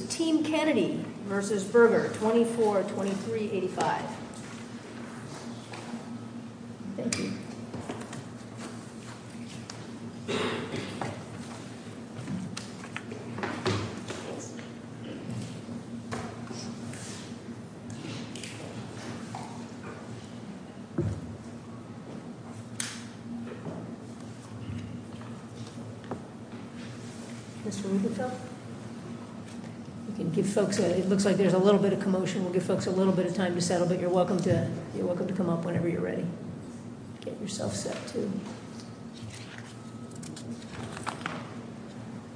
24-23-85 It looks like there's a little bit of commotion. We'll give folks a little bit of time to settle, but you're welcome to come up whenever you're ready. Get yourself set too.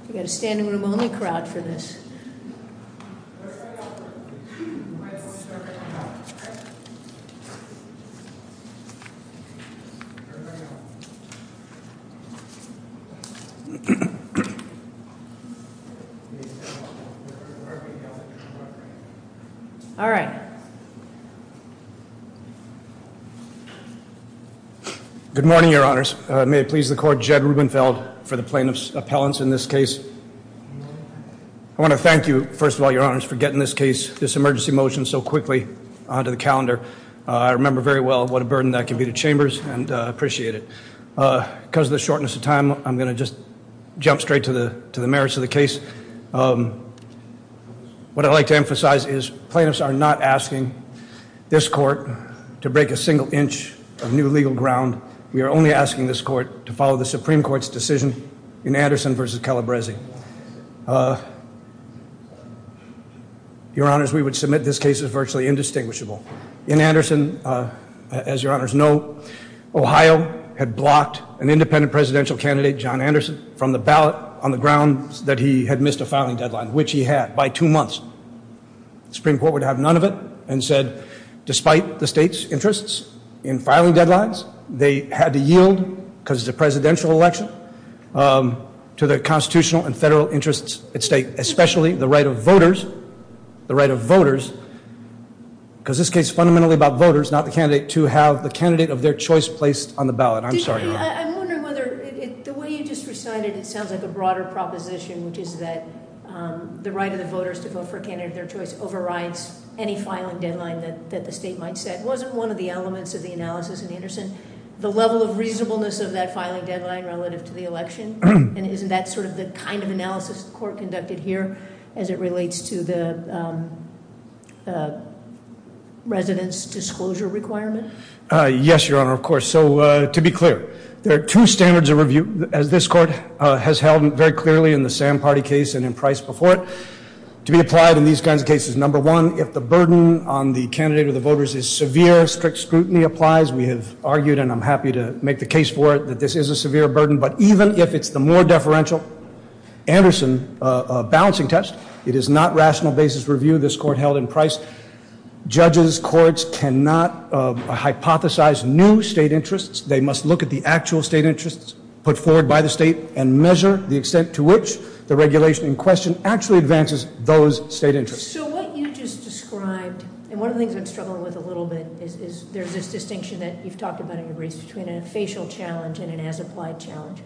We've got a standing room only crowd for this. All right. Good morning, your honors. May it please the court, Jed Rubenfeld for the plaintiff's appellants in this case. I want to thank you, first of all, your honors, for getting this case, this emergency motion so quickly onto the calendar. I remember very well what a burden that can be to chambers and I appreciate it. Because of the shortness of time, I'm going to just jump straight to the merits of the case. What I'd like to emphasize is plaintiffs are not asking this court to break a single inch of new legal ground. We are only asking this court to follow the Supreme Court's decision in Anderson v. Calabresi. Your honors, we would submit this case is virtually indistinguishable. In Anderson, as your honors know, Ohio had blocked an independent presidential candidate, John Anderson, from the ballot on the grounds that he had missed a filing deadline, which he had by two months. The Supreme Court would have none of it and said despite the state's interests in filing deadlines, they had to yield because it's a presidential election to the constitutional and federal interests at stake, especially the right of voters, the right of voters, because this case is fundamentally about voters, not the candidate, to have the candidate of their choice placed on the ballot. I'm sorry. I'm wondering whether the way you just recited it sounds like a broader proposition, which is that the right of the voters to vote for a candidate of their choice overrides any filing deadline that the state might set. Wasn't one of the elements of the analysis in Anderson the level of reasonableness of that filing deadline relative to the election? And isn't that sort of the kind of analysis the court conducted here as it relates to the resident's disclosure requirement? Yes, your honor, of course. So to be clear, there are two standards of review, as this court has held very clearly in the Sand Party case and in Price before it, to be applied in these kinds of cases. Number one, if the burden on the candidate or the voters is severe, strict scrutiny applies. We have argued, and I'm happy to make the case for it, that this is a severe burden. But even if it's the more deferential Anderson balancing test, it is not rational basis review this court held in Price. Judges, courts cannot hypothesize new state interests. They must look at the actual state interests put forward by the state and measure the extent to which the regulation in question actually advances those state interests. So what you just described, and one of the things I'm struggling with a little bit, is there's this distinction that you've talked about in your briefs between a facial challenge and an as-applied challenge.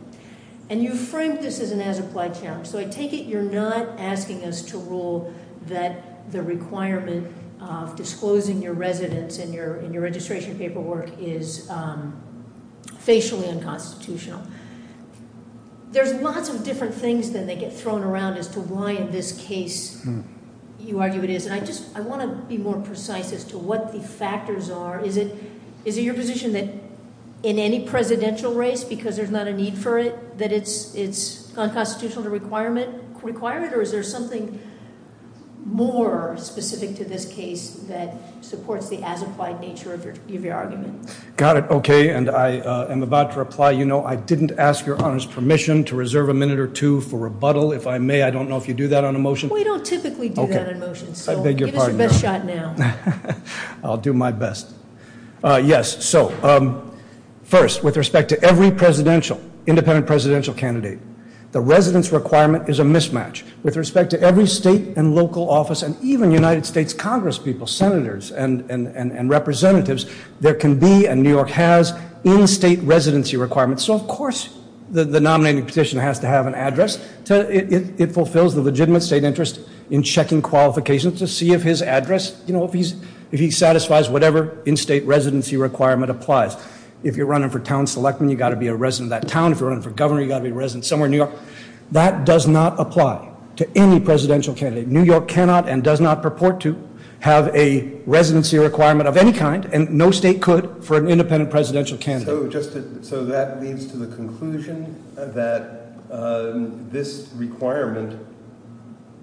And you framed this as an as-applied challenge. So I take it you're not asking us to rule that the requirement of disclosing your residence in your registration paperwork is facially unconstitutional. There's lots of different things that they get thrown around as to why in this case you argue it is. And I want to be more precise as to what the factors are. Is it your position that in any presidential race, because there's not a need for it, that it's unconstitutional to require it? Or is there something more specific to this case that supports the as-applied nature of your argument? Got it, okay, and I am about to reply. You know, I didn't ask your Honor's permission to reserve a minute or two for rebuttal. If I may, I don't know if you do that on a motion. We don't typically do that on a motion, so give us a best shot now. I'll do my best. Yes, so first, with respect to every presidential, independent presidential candidate, the residence requirement is a mismatch. With respect to every state and local office and even United States Congress people, senators and representatives, there can be and New York has in-state residency requirements. So of course the nominating petition has to have an address. It fulfills the legitimate state interest in checking qualifications to see if his address, you know, if he satisfies whatever in-state residency requirement applies. If you're running for town select, then you've got to be a resident of that town. If you're running for governor, you've got to be a resident somewhere in New York. That does not apply to any presidential candidate. New York cannot and does not purport to have a residency requirement of any kind, and no state could for an independent presidential candidate. So that leads to the conclusion that this requirement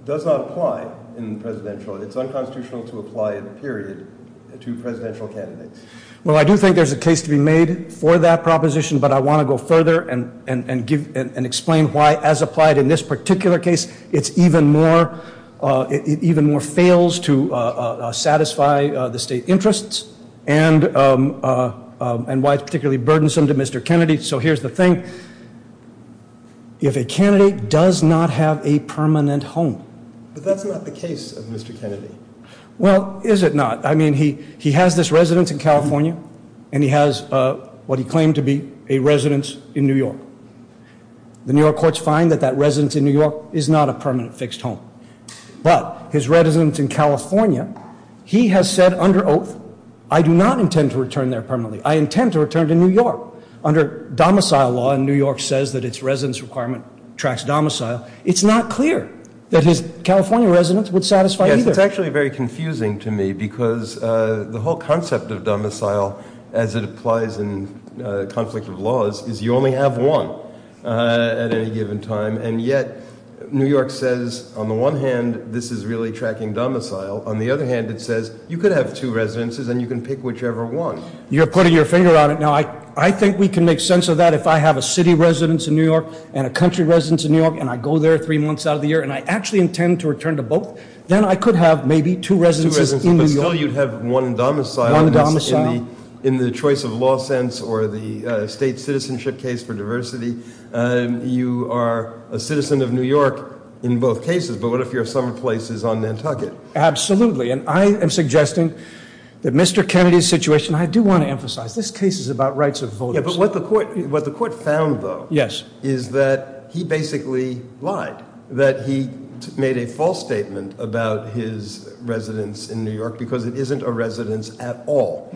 does not apply in presidential. It's unconstitutional to apply it, period, to presidential candidates. Well, I do think there's a case to be made for that proposition, but I want to go further and explain why, as applied in this particular case, it even more fails to satisfy the state interests and why it's particularly burdensome to Mr. Kennedy. So here's the thing. If a candidate does not have a permanent home. But that's not the case of Mr. Kennedy. Well, is it not? I mean, he has this residence in California, and he has what he claimed to be a residence in New York. The New York courts find that that residence in New York is not a permanent fixed home. But his residence in California, he has said under oath, I do not intend to return there permanently. I intend to return to New York. Under domicile law in New York says that its residence requirement tracks domicile. It's not clear that his California residence would satisfy either. It's actually very confusing to me, because the whole concept of domicile, as it applies in conflict of laws, is you only have one at any given time. And yet, New York says, on the one hand, this is really tracking domicile. On the other hand, it says, you could have two residences, and you can pick whichever one. You're putting your finger on it now. I think we can make sense of that if I have a city residence in New York and a country residence in New York, and I go there three months out of the year, and I actually intend to return to both, then I could have maybe two residences in New York. But still, you'd have one in domicile. One in domicile. In the choice of law sense or the state citizenship case for diversity, you are a citizen of New York in both cases. But what if your summer place is on Nantucket? Absolutely. And I am suggesting that Mr. Kennedy's situation, I do want to emphasize, this case is about rights of voters. But what the court found, though, is that he basically lied. That he made a false statement about his residence in New York because it isn't a residence at all.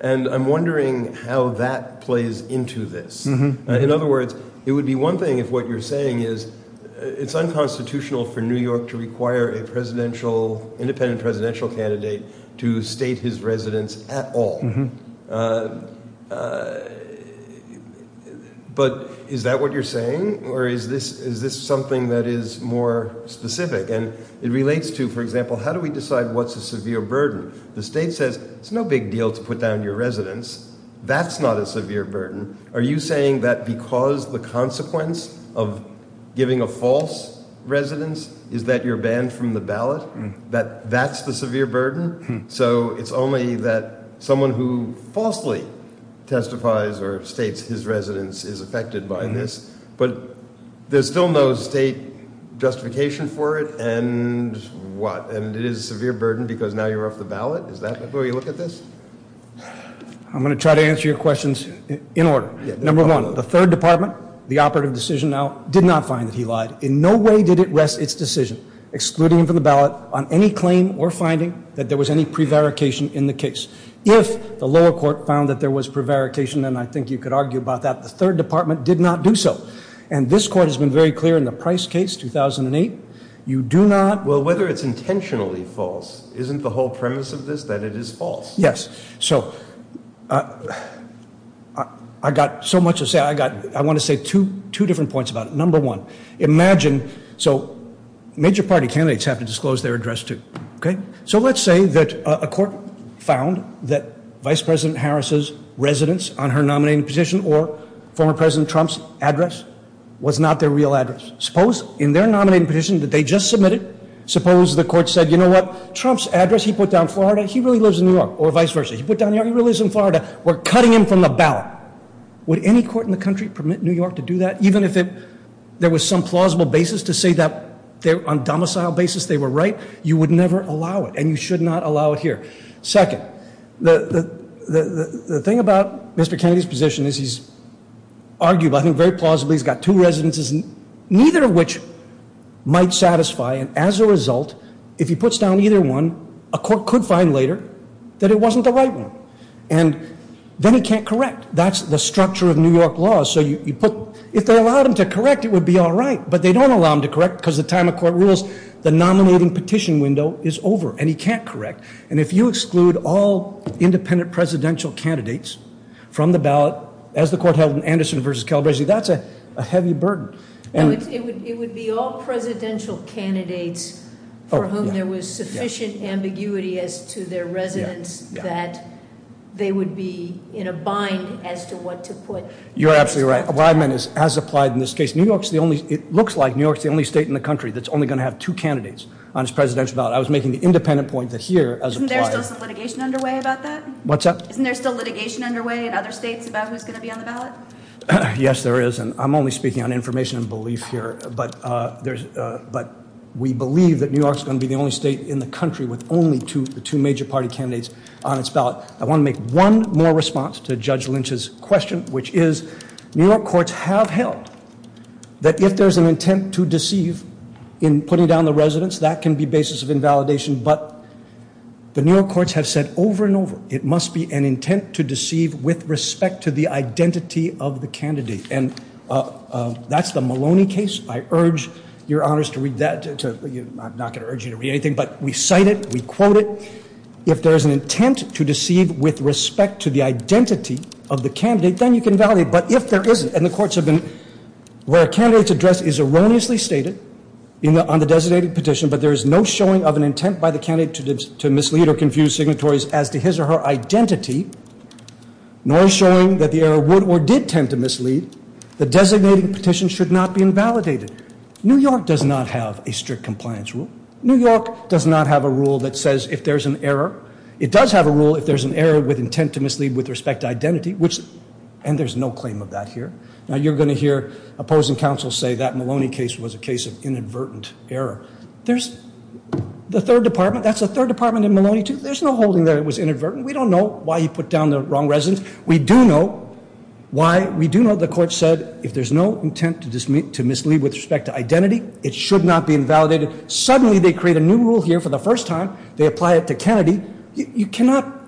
And I'm wondering how that plays into this. In other words, it would be one thing if what you're saying is it's unconstitutional for New York to require an independent presidential candidate to state his residence at all. But is that what you're saying? Or is this something that is more specific? And it relates to, for example, how do we decide what's a severe burden? The state says it's no big deal to put down your residence. That's not a severe burden. Are you saying that because the consequence of giving a false residence is that you're banned from the ballot, that that's the severe burden? So it's only that someone who falsely testifies or states his residence is affected by this. But there's still no state justification for it. And what? And it is a severe burden because now you're off the ballot? Is that the way you look at this? I'm going to try to answer your questions in order. Number one, the third department, the operative decision now, did not find that he lied. In no way did it rest its decision, excluding him from the ballot, on any claim or finding that there was any prevarication in the case. If the lower court found that there was prevarication, and I think you could argue about that, the third department did not do so. And this court has been very clear in the Price case, 2008, you do not. Well, whether it's intentionally false, isn't the whole premise of this that it is false? Yes. So I got so much to say. I want to say two different points about it. Number one, imagine, so major party candidates have to disclose their address, too. Okay? So let's say that a court found that Vice President Harris's residence on her nominating petition or former President Trump's address was not their real address. Suppose in their nominating petition that they just submitted, suppose the court said, you know what, Trump's address, he put down Florida, he really lives in New York, or vice versa. He put down New York, he really lives in Florida. We're cutting him from the ballot. Would any court in the country permit New York to do that? Even if there was some plausible basis to say that on domicile basis they were right, you would never allow it, and you should not allow it here. Second, the thing about Mr. Kennedy's position is he's argued, I think very plausibly, he's got two residences, neither of which might satisfy. And as a result, if he puts down either one, a court could find later that it wasn't the right one. And then he can't correct. That's the structure of New York law. So if they allowed him to correct, it would be all right. But they don't allow him to correct because the time a court rules, the nominating petition window is over, and he can't correct. And if you exclude all independent presidential candidates from the ballot, as the court held in Anderson versus Calabresi, that's a heavy burden. It would be all presidential candidates for whom there was sufficient ambiguity as to their residence that they would be in a bind as to what to put. You're absolutely right. What I meant is, as applied in this case, it looks like New York's the only state in the country that's only going to have two candidates on its presidential ballot. I was making the independent point that here, as applied- Isn't there still some litigation underway about that? What's that? Isn't there still litigation underway in other states about who's going to be on the ballot? Yes, there is, and I'm only speaking on information and belief here. But we believe that New York's going to be the only state in the country with only two major party candidates on its ballot. I want to make one more response to Judge Lynch's question, which is New York courts have held that if there's an intent to deceive in putting down the residence, that can be basis of invalidation. But the New York courts have said over and over, it must be an intent to deceive with respect to the identity of the candidate. And that's the Maloney case. I urge your honors to read that. I'm not going to urge you to read anything, but we cite it. We quote it. If there is an intent to deceive with respect to the identity of the candidate, then you can validate. But if there isn't, and the courts have been, where a candidate's address is erroneously stated on the designated petition, but there is no showing of an intent by the candidate to mislead or confuse signatories as to his or her identity, nor showing that the error would or did tend to mislead, the designating petition should not be invalidated. New York does not have a strict compliance rule. New York does not have a rule that says if there's an error. If there's an error with intent to mislead with respect to identity, which, and there's no claim of that here. Now, you're going to hear opposing counsel say that Maloney case was a case of inadvertent error. There's the third department. That's the third department in Maloney, too. There's no holding there it was inadvertent. We don't know why he put down the wrong residence. We do know why. We do know the court said if there's no intent to mislead with respect to identity, it should not be invalidated. Suddenly, they create a new rule here for the first time. They apply it to Kennedy. You cannot,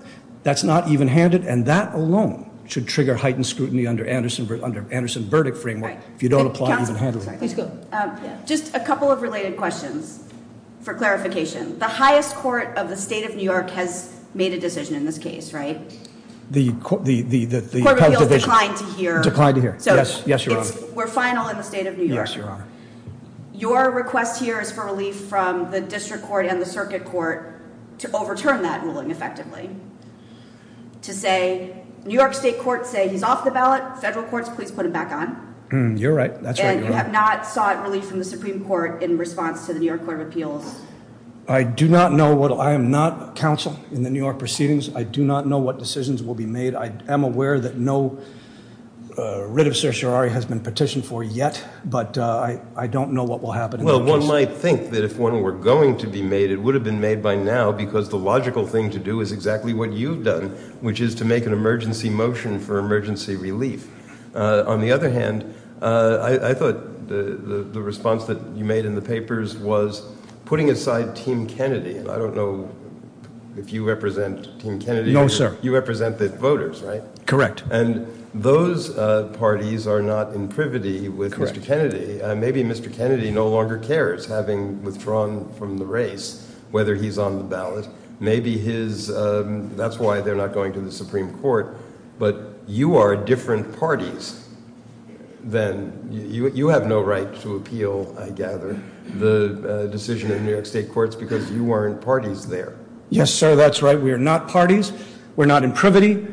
that's not even handed and that alone should trigger heightened scrutiny under Anderson verdict framework. If you don't apply even handed. Just a couple of related questions for clarification. The highest court of the state of New York has made a decision in this case, right? The court of appeals declined to hear. Declined to hear. Yes, your honor. We're final in the state of New York. Yes, your honor. Your request here is for relief from the district court and the circuit court to overturn that ruling effectively. To say, New York state courts say he's off the ballot. Federal courts, please put him back on. You're right. That's right, your honor. And you have not sought relief from the Supreme Court in response to the New York court of appeals. I do not know what, I am not counsel in the New York proceedings. I do not know what decisions will be made. I am aware that no writ of certiorari has been petitioned for yet. But I don't know what will happen. Well, one might think that if one were going to be made, it would have been made by now. Because the logical thing to do is exactly what you've done, which is to make an emergency motion for emergency relief. On the other hand, I thought the response that you made in the papers was putting aside team Kennedy. I don't know if you represent team Kennedy. No, sir. You represent the voters, right? Correct. And those parties are not in privity with Mr. Kennedy. Maybe Mr. Kennedy no longer cares, having withdrawn from the race, whether he's on the ballot. Maybe his, that's why they're not going to the Supreme Court. But you are different parties than, you have no right to appeal, I gather, the decision in New York state courts because you weren't parties there. Yes, sir, that's right. We are not parties. We're not in privity.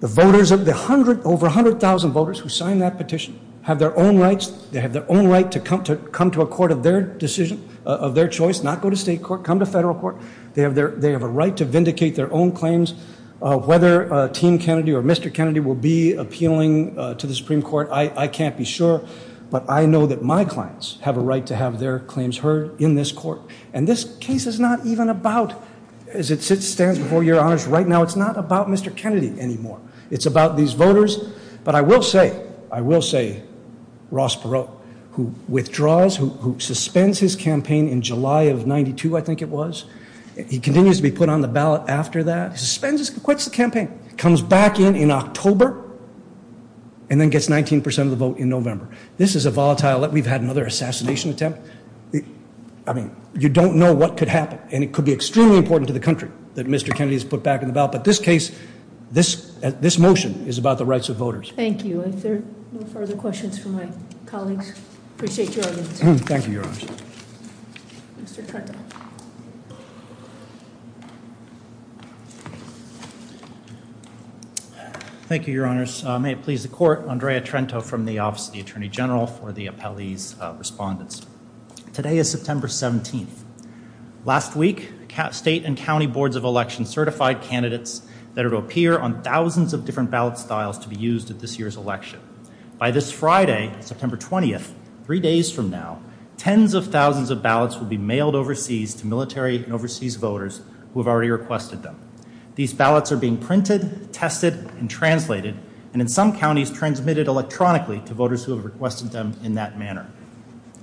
The voters, the over 100,000 voters who signed that petition have their own rights. They have their own right to come to a court of their decision, of their choice, not go to state court, come to federal court. They have a right to vindicate their own claims. Whether team Kennedy or Mr. Kennedy will be appealing to the Supreme Court, I can't be sure. But I know that my clients have a right to have their claims heard in this court. And this case is not even about, as it stands before your honors right now, it's not about Mr. Kennedy anymore. It's about these voters. But I will say, I will say, Ross Perot, who withdraws, who suspends his campaign in July of 92, I think it was. He continues to be put on the ballot after that. Suspends, quits the campaign. Comes back in in October and then gets 19% of the vote in November. This is a volatile, we've had another assassination attempt. I mean, you don't know what could happen. And it could be extremely important to the country that Mr. Kennedy is put back in the ballot. But this case, this motion is about the rights of voters. Thank you. Are there no further questions from my colleagues? Appreciate your audience. Thank you, your honors. Thank you, your honors. May it please the court. Andrea Trento from the Office of the Attorney General for the appellee's respondents. Today is September 17th. Last week, state and county boards of elections certified candidates that it would appear on thousands of different ballot styles to be used at this year's election. By this Friday, September 20th, three days from now, tens of thousands of ballots will be mailed overseas to military and overseas voters who have already requested them. These ballots are being printed, tested, and translated, and in some counties, transmitted electronically to voters who have requested them in that manner.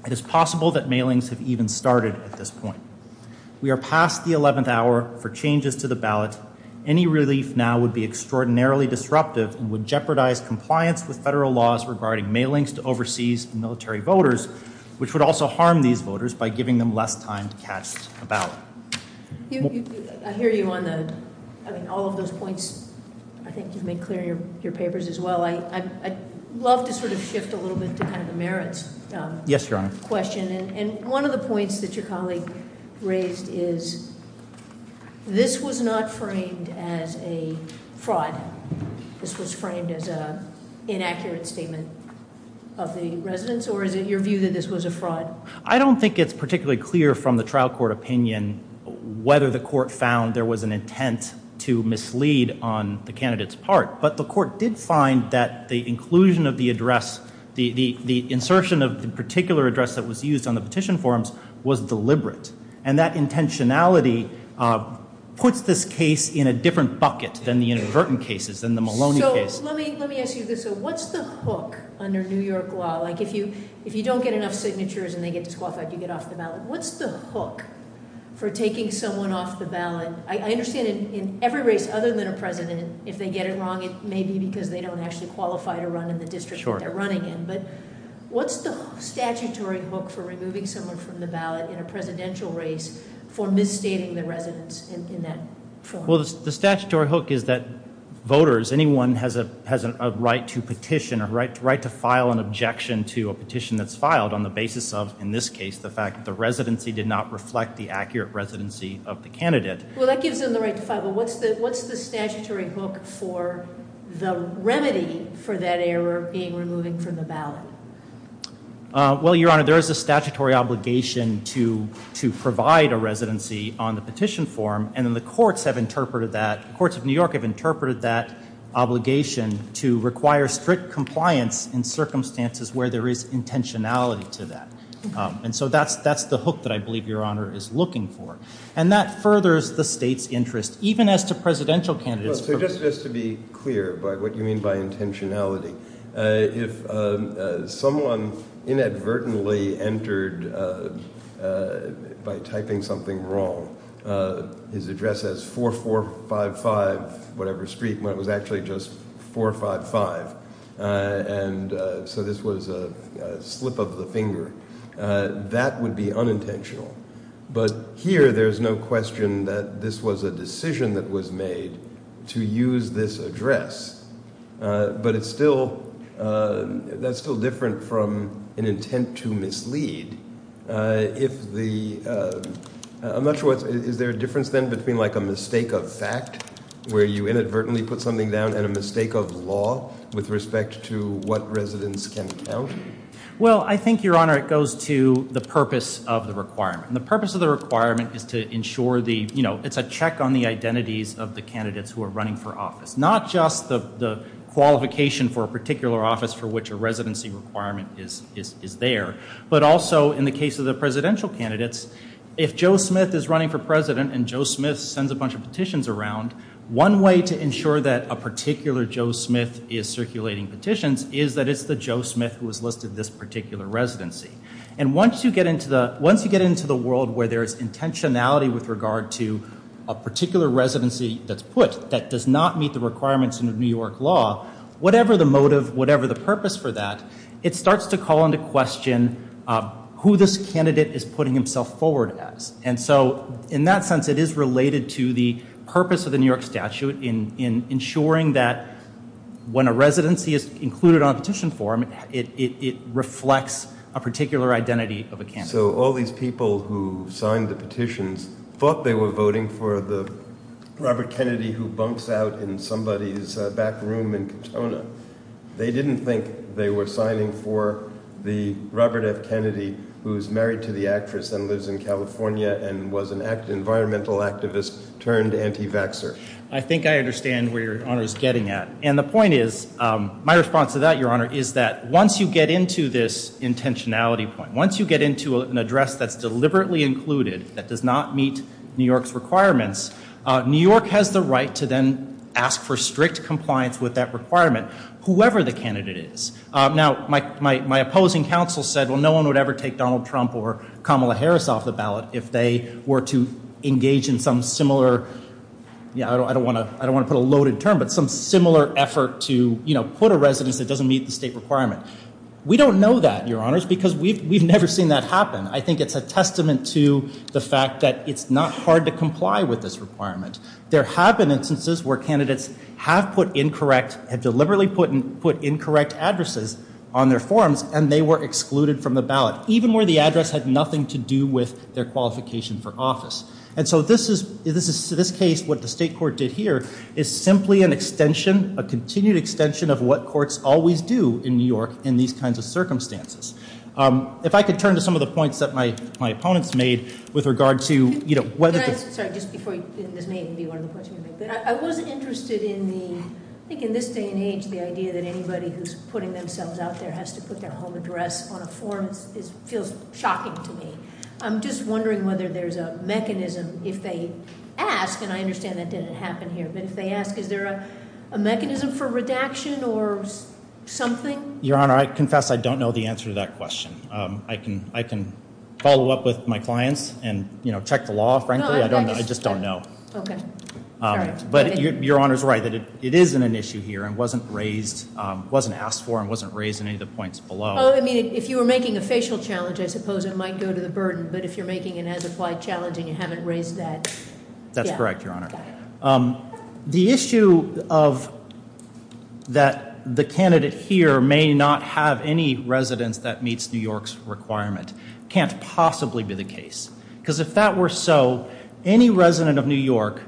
It is possible that mailings have even started at this point. We are past the 11th hour for changes to the ballot. Any relief now would be extraordinarily disruptive and would jeopardize compliance with federal laws regarding mailings to overseas military voters, which would also harm these voters by giving them less time to cast a ballot. I hear you on the, I mean, all of those points. I think you've made clear in your papers as well. I'd love to sort of shift a little bit to kind of the merits. Yes, your honor. Question, and one of the points that your colleague raised is this was not framed as a fraud. This was framed as an inaccurate statement of the residents, or is it your view that this was a fraud? I don't think it's particularly clear from the trial court opinion whether the court found there was an intent to mislead on the candidate's part. But the court did find that the inclusion of the address, the insertion of the particular address that was used on the petition forms was deliberate. And that intentionality puts this case in a different bucket than the inadvertent cases, than the Maloney case. Let me ask you this, though. What's the hook under New York law? Like, if you don't get enough signatures and they get disqualified, you get off the ballot. What's the hook for taking someone off the ballot? I understand in every race other than a president, if they get it wrong, it may be because they don't actually qualify to run in the district they're running in. But what's the statutory hook for removing someone from the ballot in a presidential race for misstating the residents in that form? Well, the statutory hook is that voters, anyone has a right to petition, a right to file an objection to a petition that's filed on the basis of, in this case, the fact that the residency did not reflect the accurate residency of the candidate. Well, that gives them the right to file. But what's the statutory hook for the remedy for that error being removing from the ballot? Well, Your Honor, there is a statutory obligation to provide a residency on the petition form. And then the courts have interpreted that. Courts of New York have interpreted that obligation to require strict compliance in circumstances where there is intentionality to that. And so that's the hook that I believe Your Honor is looking for. And that furthers the state's interest, even as to presidential candidates. So just to be clear by what you mean by intentionality, if someone inadvertently entered by typing something wrong, his address says 4455 whatever street, when it was actually just 455. And so this was a slip of the finger. That would be unintentional. But here there's no question that this was a decision that was made to use this address. But it's still, that's still different from an intent to mislead. If the, I'm not sure what, is there a difference then between like a mistake of fact where you inadvertently put something down and a mistake of law with respect to what residents can count? Well, I think, Your Honor, it goes to the purpose of the requirement. And the purpose of the requirement is to ensure the, you know, it's a check on the identities of the candidates who are running for office. Not just the qualification for a particular office for which a residency requirement is there, but also in the case of the presidential candidates, if Joe Smith is running for president and Joe Smith sends a bunch of petitions around, one way to ensure that a particular Joe Smith is circulating petitions is that it's the Joe Smith who has listed this particular residency. And once you get into the world where there's intentionality with regard to a particular residency that's put that does not meet the requirements of New York law, whatever the motive, whatever the purpose for that, it starts to call into question who this candidate is putting himself forward as. And so in that sense it is related to the purpose of the New York statute in ensuring that when a residency is included on a petition form, it reflects a particular identity of a candidate. So all these people who signed the petitions thought they were voting for the Robert Kennedy who bunks out in somebody's back room in Katona. They didn't think they were signing for the Robert F. Kennedy who's married to the actress and lives in California and was an environmental activist turned anti-vaxxer. I think I understand where Your Honor is getting at. And the point is, my response to that, Your Honor, is that once you get into this intentionality point, once you get into an address that's deliberately included that does not meet New York's requirements, New York has the right to then ask for strict compliance with that requirement, whoever the candidate is. Now my opposing counsel said, well, no one would ever take Donald Trump or Kamala Harris off the ballot if they were to engage in some similar, yeah, I don't want to put a loaded term, but some similar effort to put a residence that doesn't meet the state requirement. We don't know that, Your Honors, because we've never seen that happen. I think it's a testament to the fact that it's not hard to comply with this requirement. There have been instances where candidates have deliberately put incorrect addresses on their forms and they were excluded from the ballot, even where the address had nothing to do with their qualification for office. And so this case, what the state court did here, is simply an extension, a continued extension of what courts always do in New York in these kinds of circumstances. If I could turn to some of the points that my opponents made with regard to whether- Can I ask, sorry, just before you, and this may even be one of the points you make, but I was interested in the, I think in this day and age, the idea that anybody who's putting themselves out there has to put their home address on a form. It feels shocking to me. I'm just wondering whether there's a mechanism if they ask, and I understand that didn't happen here, but if they ask, is there a mechanism for redaction or something? Your Honor, I confess I don't know the answer to that question. I can follow up with my clients and check the law, frankly. I just don't know. Okay. Sorry. But Your Honor's right that it is an issue here and wasn't asked for and wasn't raised in any of the points below. Oh, I mean, if you were making a facial challenge, I suppose it might go to the burden, but if you're making an as-applied challenge and you haven't raised that- That's correct, Your Honor. The issue of that the candidate here may not have any residence that meets New York's requirement can't possibly be the case because if that were so, any resident of New York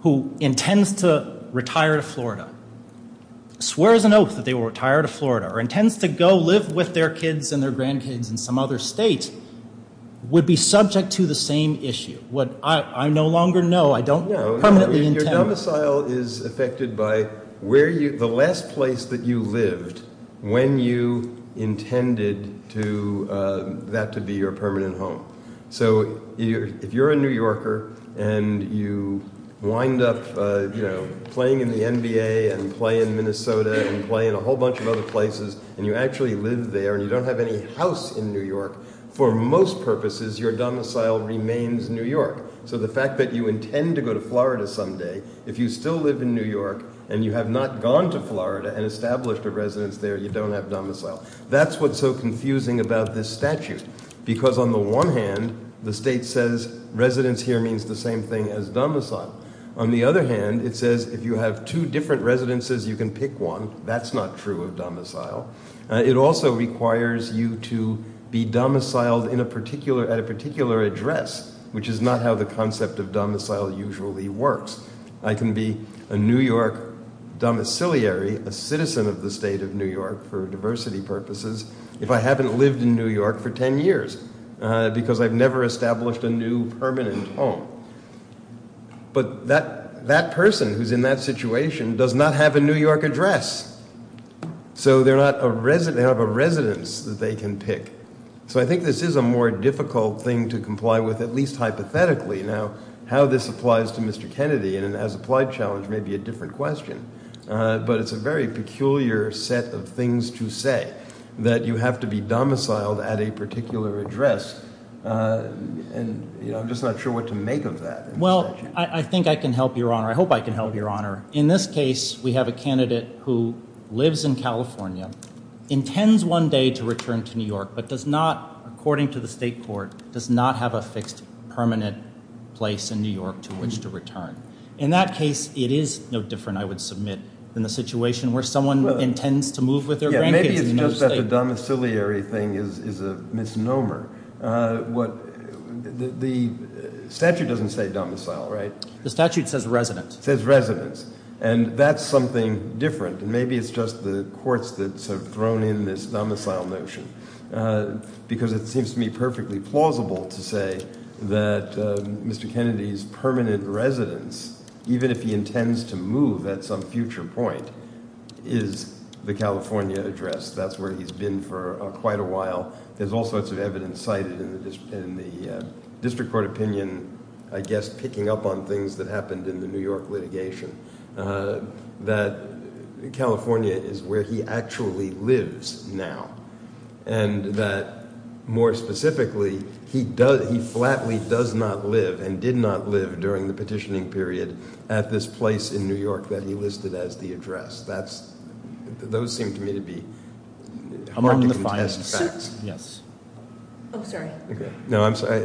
who intends to retire to Florida, swears an oath that they will retire to Florida, or intends to go live with their kids and their grandkids in some other state, would be subject to the same issue. What I no longer know, I don't permanently intend- Your domicile is affected by the last place that you lived when you intended that to be your permanent home. So if you're a New Yorker and you wind up playing in the NBA and play in Minnesota and play in a whole bunch of other places, and you actually live there and you don't have any house in New York, for most purposes, your domicile remains New York. So the fact that you intend to go to Florida someday, if you still live in New York, and you have not gone to Florida and established a residence there, you don't have domicile. That's what's so confusing about this statute. Because on the one hand, the state says residence here means the same thing as domicile. On the other hand, it says if you have two different residences, you can pick one. That's not true of domicile. It also requires you to be domiciled at a particular address, which is not how the concept of domicile usually works. I can be a New York domiciliary, a citizen of the state of New York for diversity purposes, if I haven't lived in New York for ten years because I've never established a new permanent home. But that person who's in that situation does not have a New York address. So they don't have a residence that they can pick. So I think this is a more difficult thing to comply with, at least hypothetically. Now, how this applies to Mr. Kennedy in an as-applied challenge may be a different question. But it's a very peculiar set of things to say, that you have to be domiciled at a particular address. And I'm just not sure what to make of that. Well, I think I can help, Your Honor. I hope I can help, Your Honor. In this case, we have a candidate who lives in California, intends one day to return to New York, but does not, according to the state court, does not have a fixed permanent place in New York to which to return. In that case, it is no different, I would submit, than the situation where someone intends to move with their grandkids. Maybe it's just that the domiciliary thing is a misnomer. The statute doesn't say domicile, right? The statute says residence. It says residence. And that's something different. And maybe it's just the courts that have thrown in this domicile notion. Because it seems to me perfectly plausible to say that Mr. Kennedy's permanent residence, even if he intends to move at some future point, is the California address. That's where he's been for quite a while. There's all sorts of evidence cited in the district court opinion, I guess, picking up on things that happened in the New York litigation. That California is where he actually lives now. And that, more specifically, he flatly does not live and did not live during the petitioning period at this place in New York that he listed as the address. Those seem to me to be- Among the finest facts. Yes. Oh, sorry. No, I'm sorry.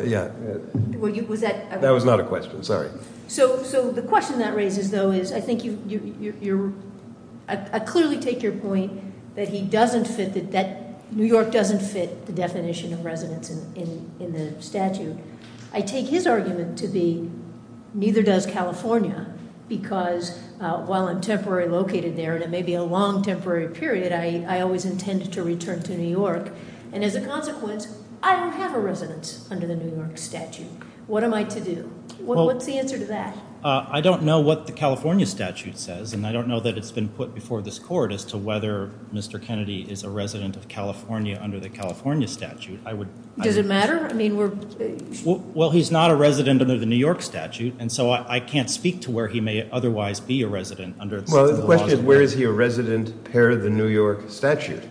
Was that- That was not a question, sorry. So the question that raises, though, is I think you're- I clearly take your point that New York doesn't fit the definition of residence in the statute. I take his argument to be, neither does California. Because while I'm temporarily located there, and it may be a long, temporary period, I always intended to return to New York. And as a consequence, I don't have a residence under the New York statute. What am I to do? What's the answer to that? I don't know what the California statute says, and I don't know that it's been put before this court as to whether Mr. Kennedy is a resident of California under the California statute. I would- Does it matter? I mean, we're- Well, he's not a resident under the New York statute, and so I can't speak to where he may otherwise be a resident under- Well, the question is, where is he a resident per the New York statute?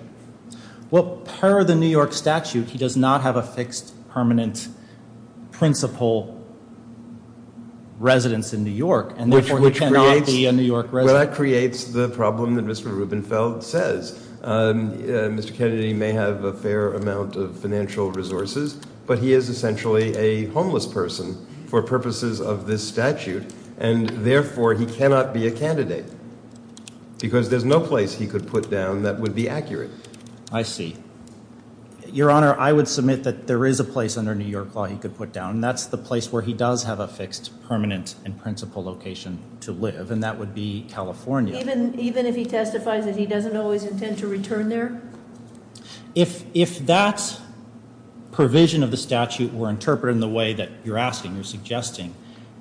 Well, per the New York statute, he does not have a fixed permanent principal residence in New York, and therefore- Which creates- He cannot be a New York resident. Well, that creates the problem that Mr. Rubenfeld says. Mr. Kennedy may have a fair amount of financial resources, but he is essentially a homeless person for purposes of this statute. And therefore, he cannot be a candidate because there's no place he could put down that would be accurate. I see. Your Honor, I would submit that there is a place under New York law he could put down. That's the place where he does have a fixed permanent and principal location to live, and that would be California. Even if he testifies that he doesn't always intend to return there? If that provision of the statute were interpreted in the way that you're asking or suggesting,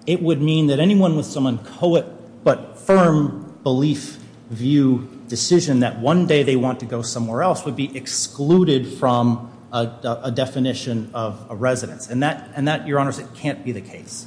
it would mean that anyone with some uncoet but firm belief-view decision that one day they want to go somewhere else would be excluded from a definition of a residence. And that, Your Honors, it can't be the case.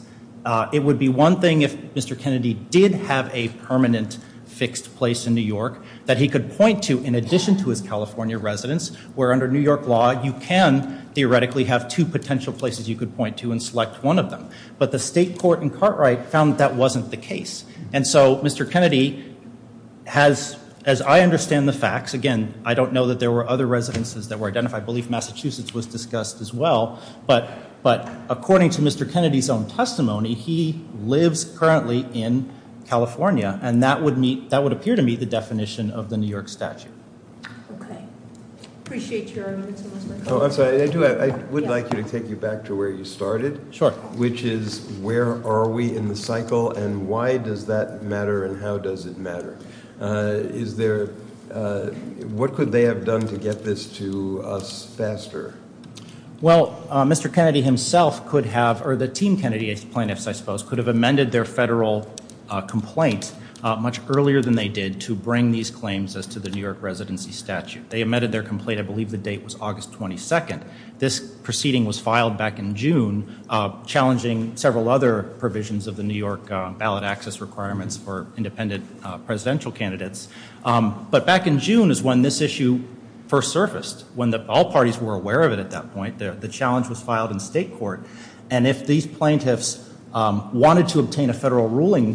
It would be one thing if Mr. Kennedy did have a permanent fixed place in New York that he could point to in addition to his California residence, where under New York law you can theoretically have two potential places you could point to and select one of them. But the state court in Cartwright found that that wasn't the case. And so Mr. Kennedy has, as I understand the facts, again, I don't know that there were other residences that were identified. I believe Massachusetts was discussed as well. But according to Mr. Kennedy's own testimony, he lives currently in California, and that would appear to meet the definition of the New York statute. Okay. Appreciate your argument so much. I'm sorry, I do. I would like to take you back to where you started. Sure. Which is where are we in the cycle, and why does that matter, and how does it matter? Is there, what could they have done to get this to us faster? Well, Mr. Kennedy himself could have, or the team Kennedy plaintiffs, I suppose, could have amended their federal complaint much earlier than they did to bring these claims as to the New York residency statute. They amended their complaint, I believe the date was August 22nd. This proceeding was filed back in June, challenging several other provisions of the New York ballot access requirements for independent presidential candidates. But back in June is when this issue first surfaced, when all parties were aware of it at that point. The challenge was filed in state court, and if these plaintiffs wanted to obtain a federal ruling,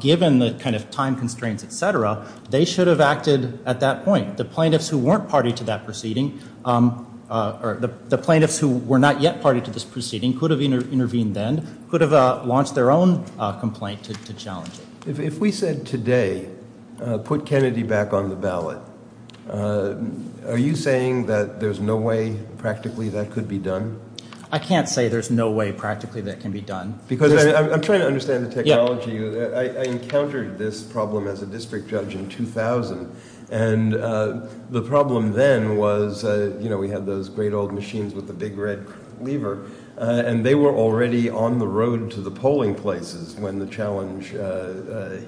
given the kind of time constraints, et cetera, they should have acted at that point. The plaintiffs who weren't party to that proceeding, or the plaintiffs who were not yet party to this proceeding, could have intervened then, could have launched their own complaint to challenge it. If we said today, put Kennedy back on the ballot, are you saying that there's no way practically that could be done? I can't say there's no way practically that can be done. Because I'm trying to understand the technology. I encountered this problem as a district judge in 2000, and the problem then was we had those great old machines with the big red lever, and they were already on the road to the polling places when the challenge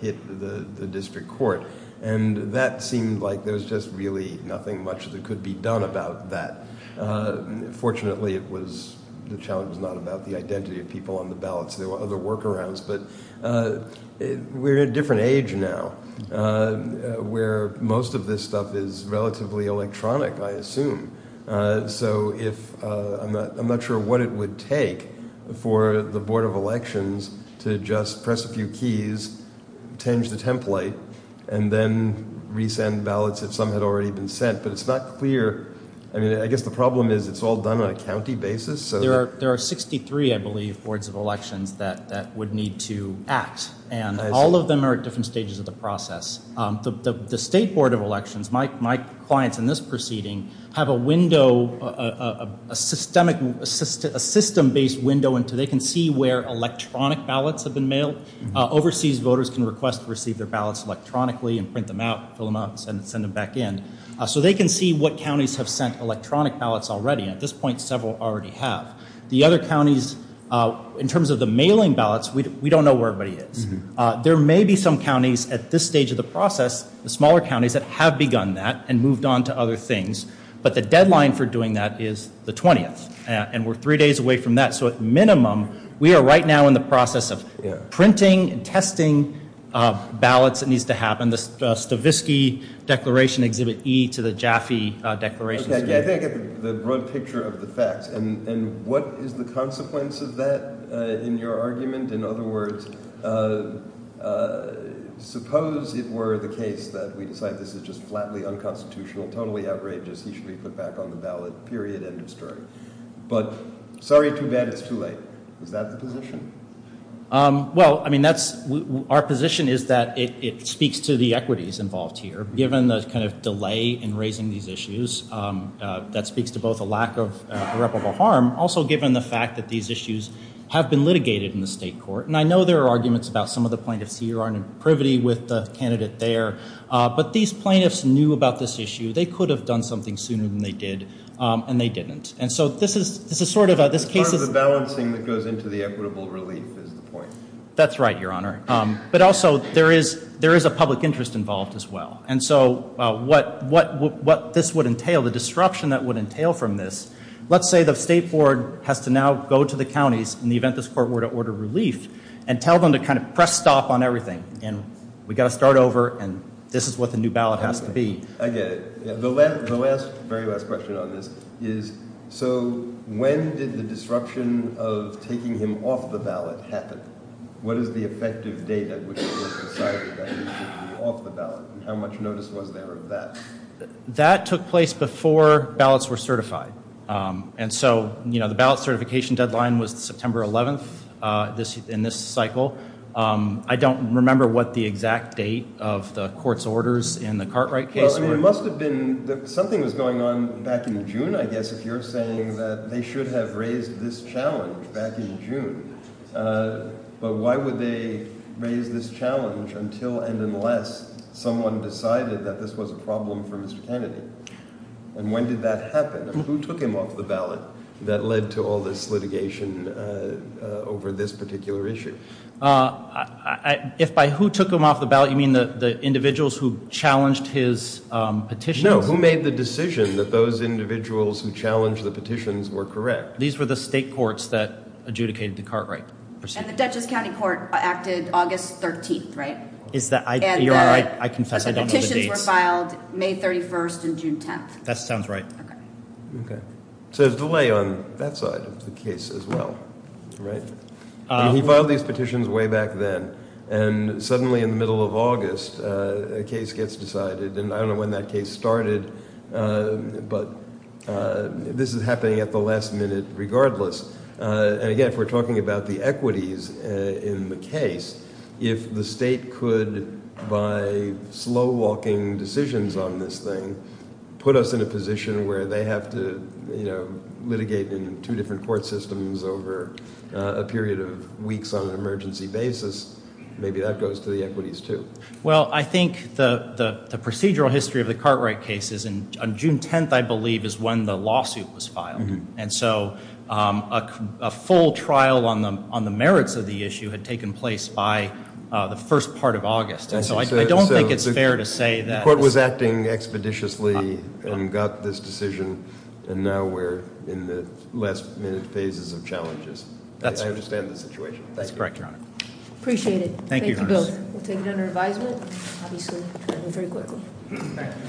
hit the district court. And that seemed like there was just really nothing much that could be done about that. Fortunately, it was – the challenge was not about the identity of people on the ballots. There were other workarounds, but we're at a different age now where most of this stuff is relatively electronic, I assume. So if – I'm not sure what it would take for the Board of Elections to just press a few keys, change the template, and then resend ballots if some had already been sent. But it's not clear. I mean, I guess the problem is it's all done on a county basis. There are 63, I believe, boards of elections that would need to act, and all of them are at different stages of the process. The State Board of Elections, my clients in this proceeding, have a window, a system-based window into – they can see where electronic ballots have been mailed. Overseas voters can request to receive their ballots electronically and print them out, fill them out, and send them back in. So they can see what counties have sent electronic ballots already. At this point, several already have. The other counties, in terms of the mailing ballots, we don't know where everybody is. There may be some counties at this stage of the process, the smaller counties, that have begun that and moved on to other things. But the deadline for doing that is the 20th, and we're three days away from that. So at minimum, we are right now in the process of printing and testing ballots that needs to happen. The Stavisky Declaration, Exhibit E to the Jaffe Declaration. Okay, I think I get the broad picture of the facts. And what is the consequence of that in your argument? In other words, suppose it were the case that we decide this is just flatly unconstitutional, totally outrageous, he should be put back on the ballot, period, end of story. But sorry too bad it's too late. Is that the position? Well, I mean that's – our position is that it speaks to the equities involved here. Given the kind of delay in raising these issues, that speaks to both a lack of irreparable harm, also given the fact that these issues have been litigated in the state court. And I know there are arguments about some of the plaintiffs here aren't in privity with the candidate there. But these plaintiffs knew about this issue. They could have done something sooner than they did, and they didn't. And so this is sort of a – this case is – It's part of the balancing that goes into the equitable relief is the point. That's right, Your Honor. But also there is a public interest involved as well. And so what this would entail, the disruption that would entail from this, let's say the state board has to now go to the counties in the event this court were to order relief and tell them to kind of press stop on everything and we've got to start over and this is what the new ballot has to be. I get it. The last, very last question on this is so when did the disruption of taking him off the ballot happen? What is the effective date at which it was decided that he should be off the ballot? How much notice was there of that? That took place before ballots were certified. And so, you know, the ballot certification deadline was September 11th in this cycle. I don't remember what the exact date of the court's orders in the Cartwright case. Well, I mean, it must have been – something was going on back in June, I guess, if you're saying that they should have raised this challenge back in June. But why would they raise this challenge until and unless someone decided that this was a problem for Mr. Kennedy? And when did that happen? Who took him off the ballot that led to all this litigation over this particular issue? If by who took him off the ballot, you mean the individuals who challenged his petition? No, who made the decision that those individuals who challenged the petitions were correct? These were the state courts that adjudicated the Cartwright proceeding. And the Dutchess County Court acted August 13th, right? You're all right. I confess I don't know the dates. But the petitions were filed May 31st and June 10th. That sounds right. Okay. So there's delay on that side of the case as well, right? He filed these petitions way back then, and suddenly in the middle of August a case gets decided. And I don't know when that case started, but this is happening at the last minute regardless. And, again, if we're talking about the equities in the case, if the state could, by slow-walking decisions on this thing, put us in a position where they have to litigate in two different court systems over a period of weeks on an emergency basis, maybe that goes to the equities too. Well, I think the procedural history of the Cartwright case is on June 10th, I believe, is when the lawsuit was filed. And so a full trial on the merits of the issue had taken place by the first part of August. And so I don't think it's fair to say that. The court was acting expeditiously and got this decision, and now we're in the last-minute phases of challenges. I understand the situation. That's correct, Your Honor. Appreciate it. Thank you both. We'll take it under advisement. Obviously, that went very quickly. Thank you.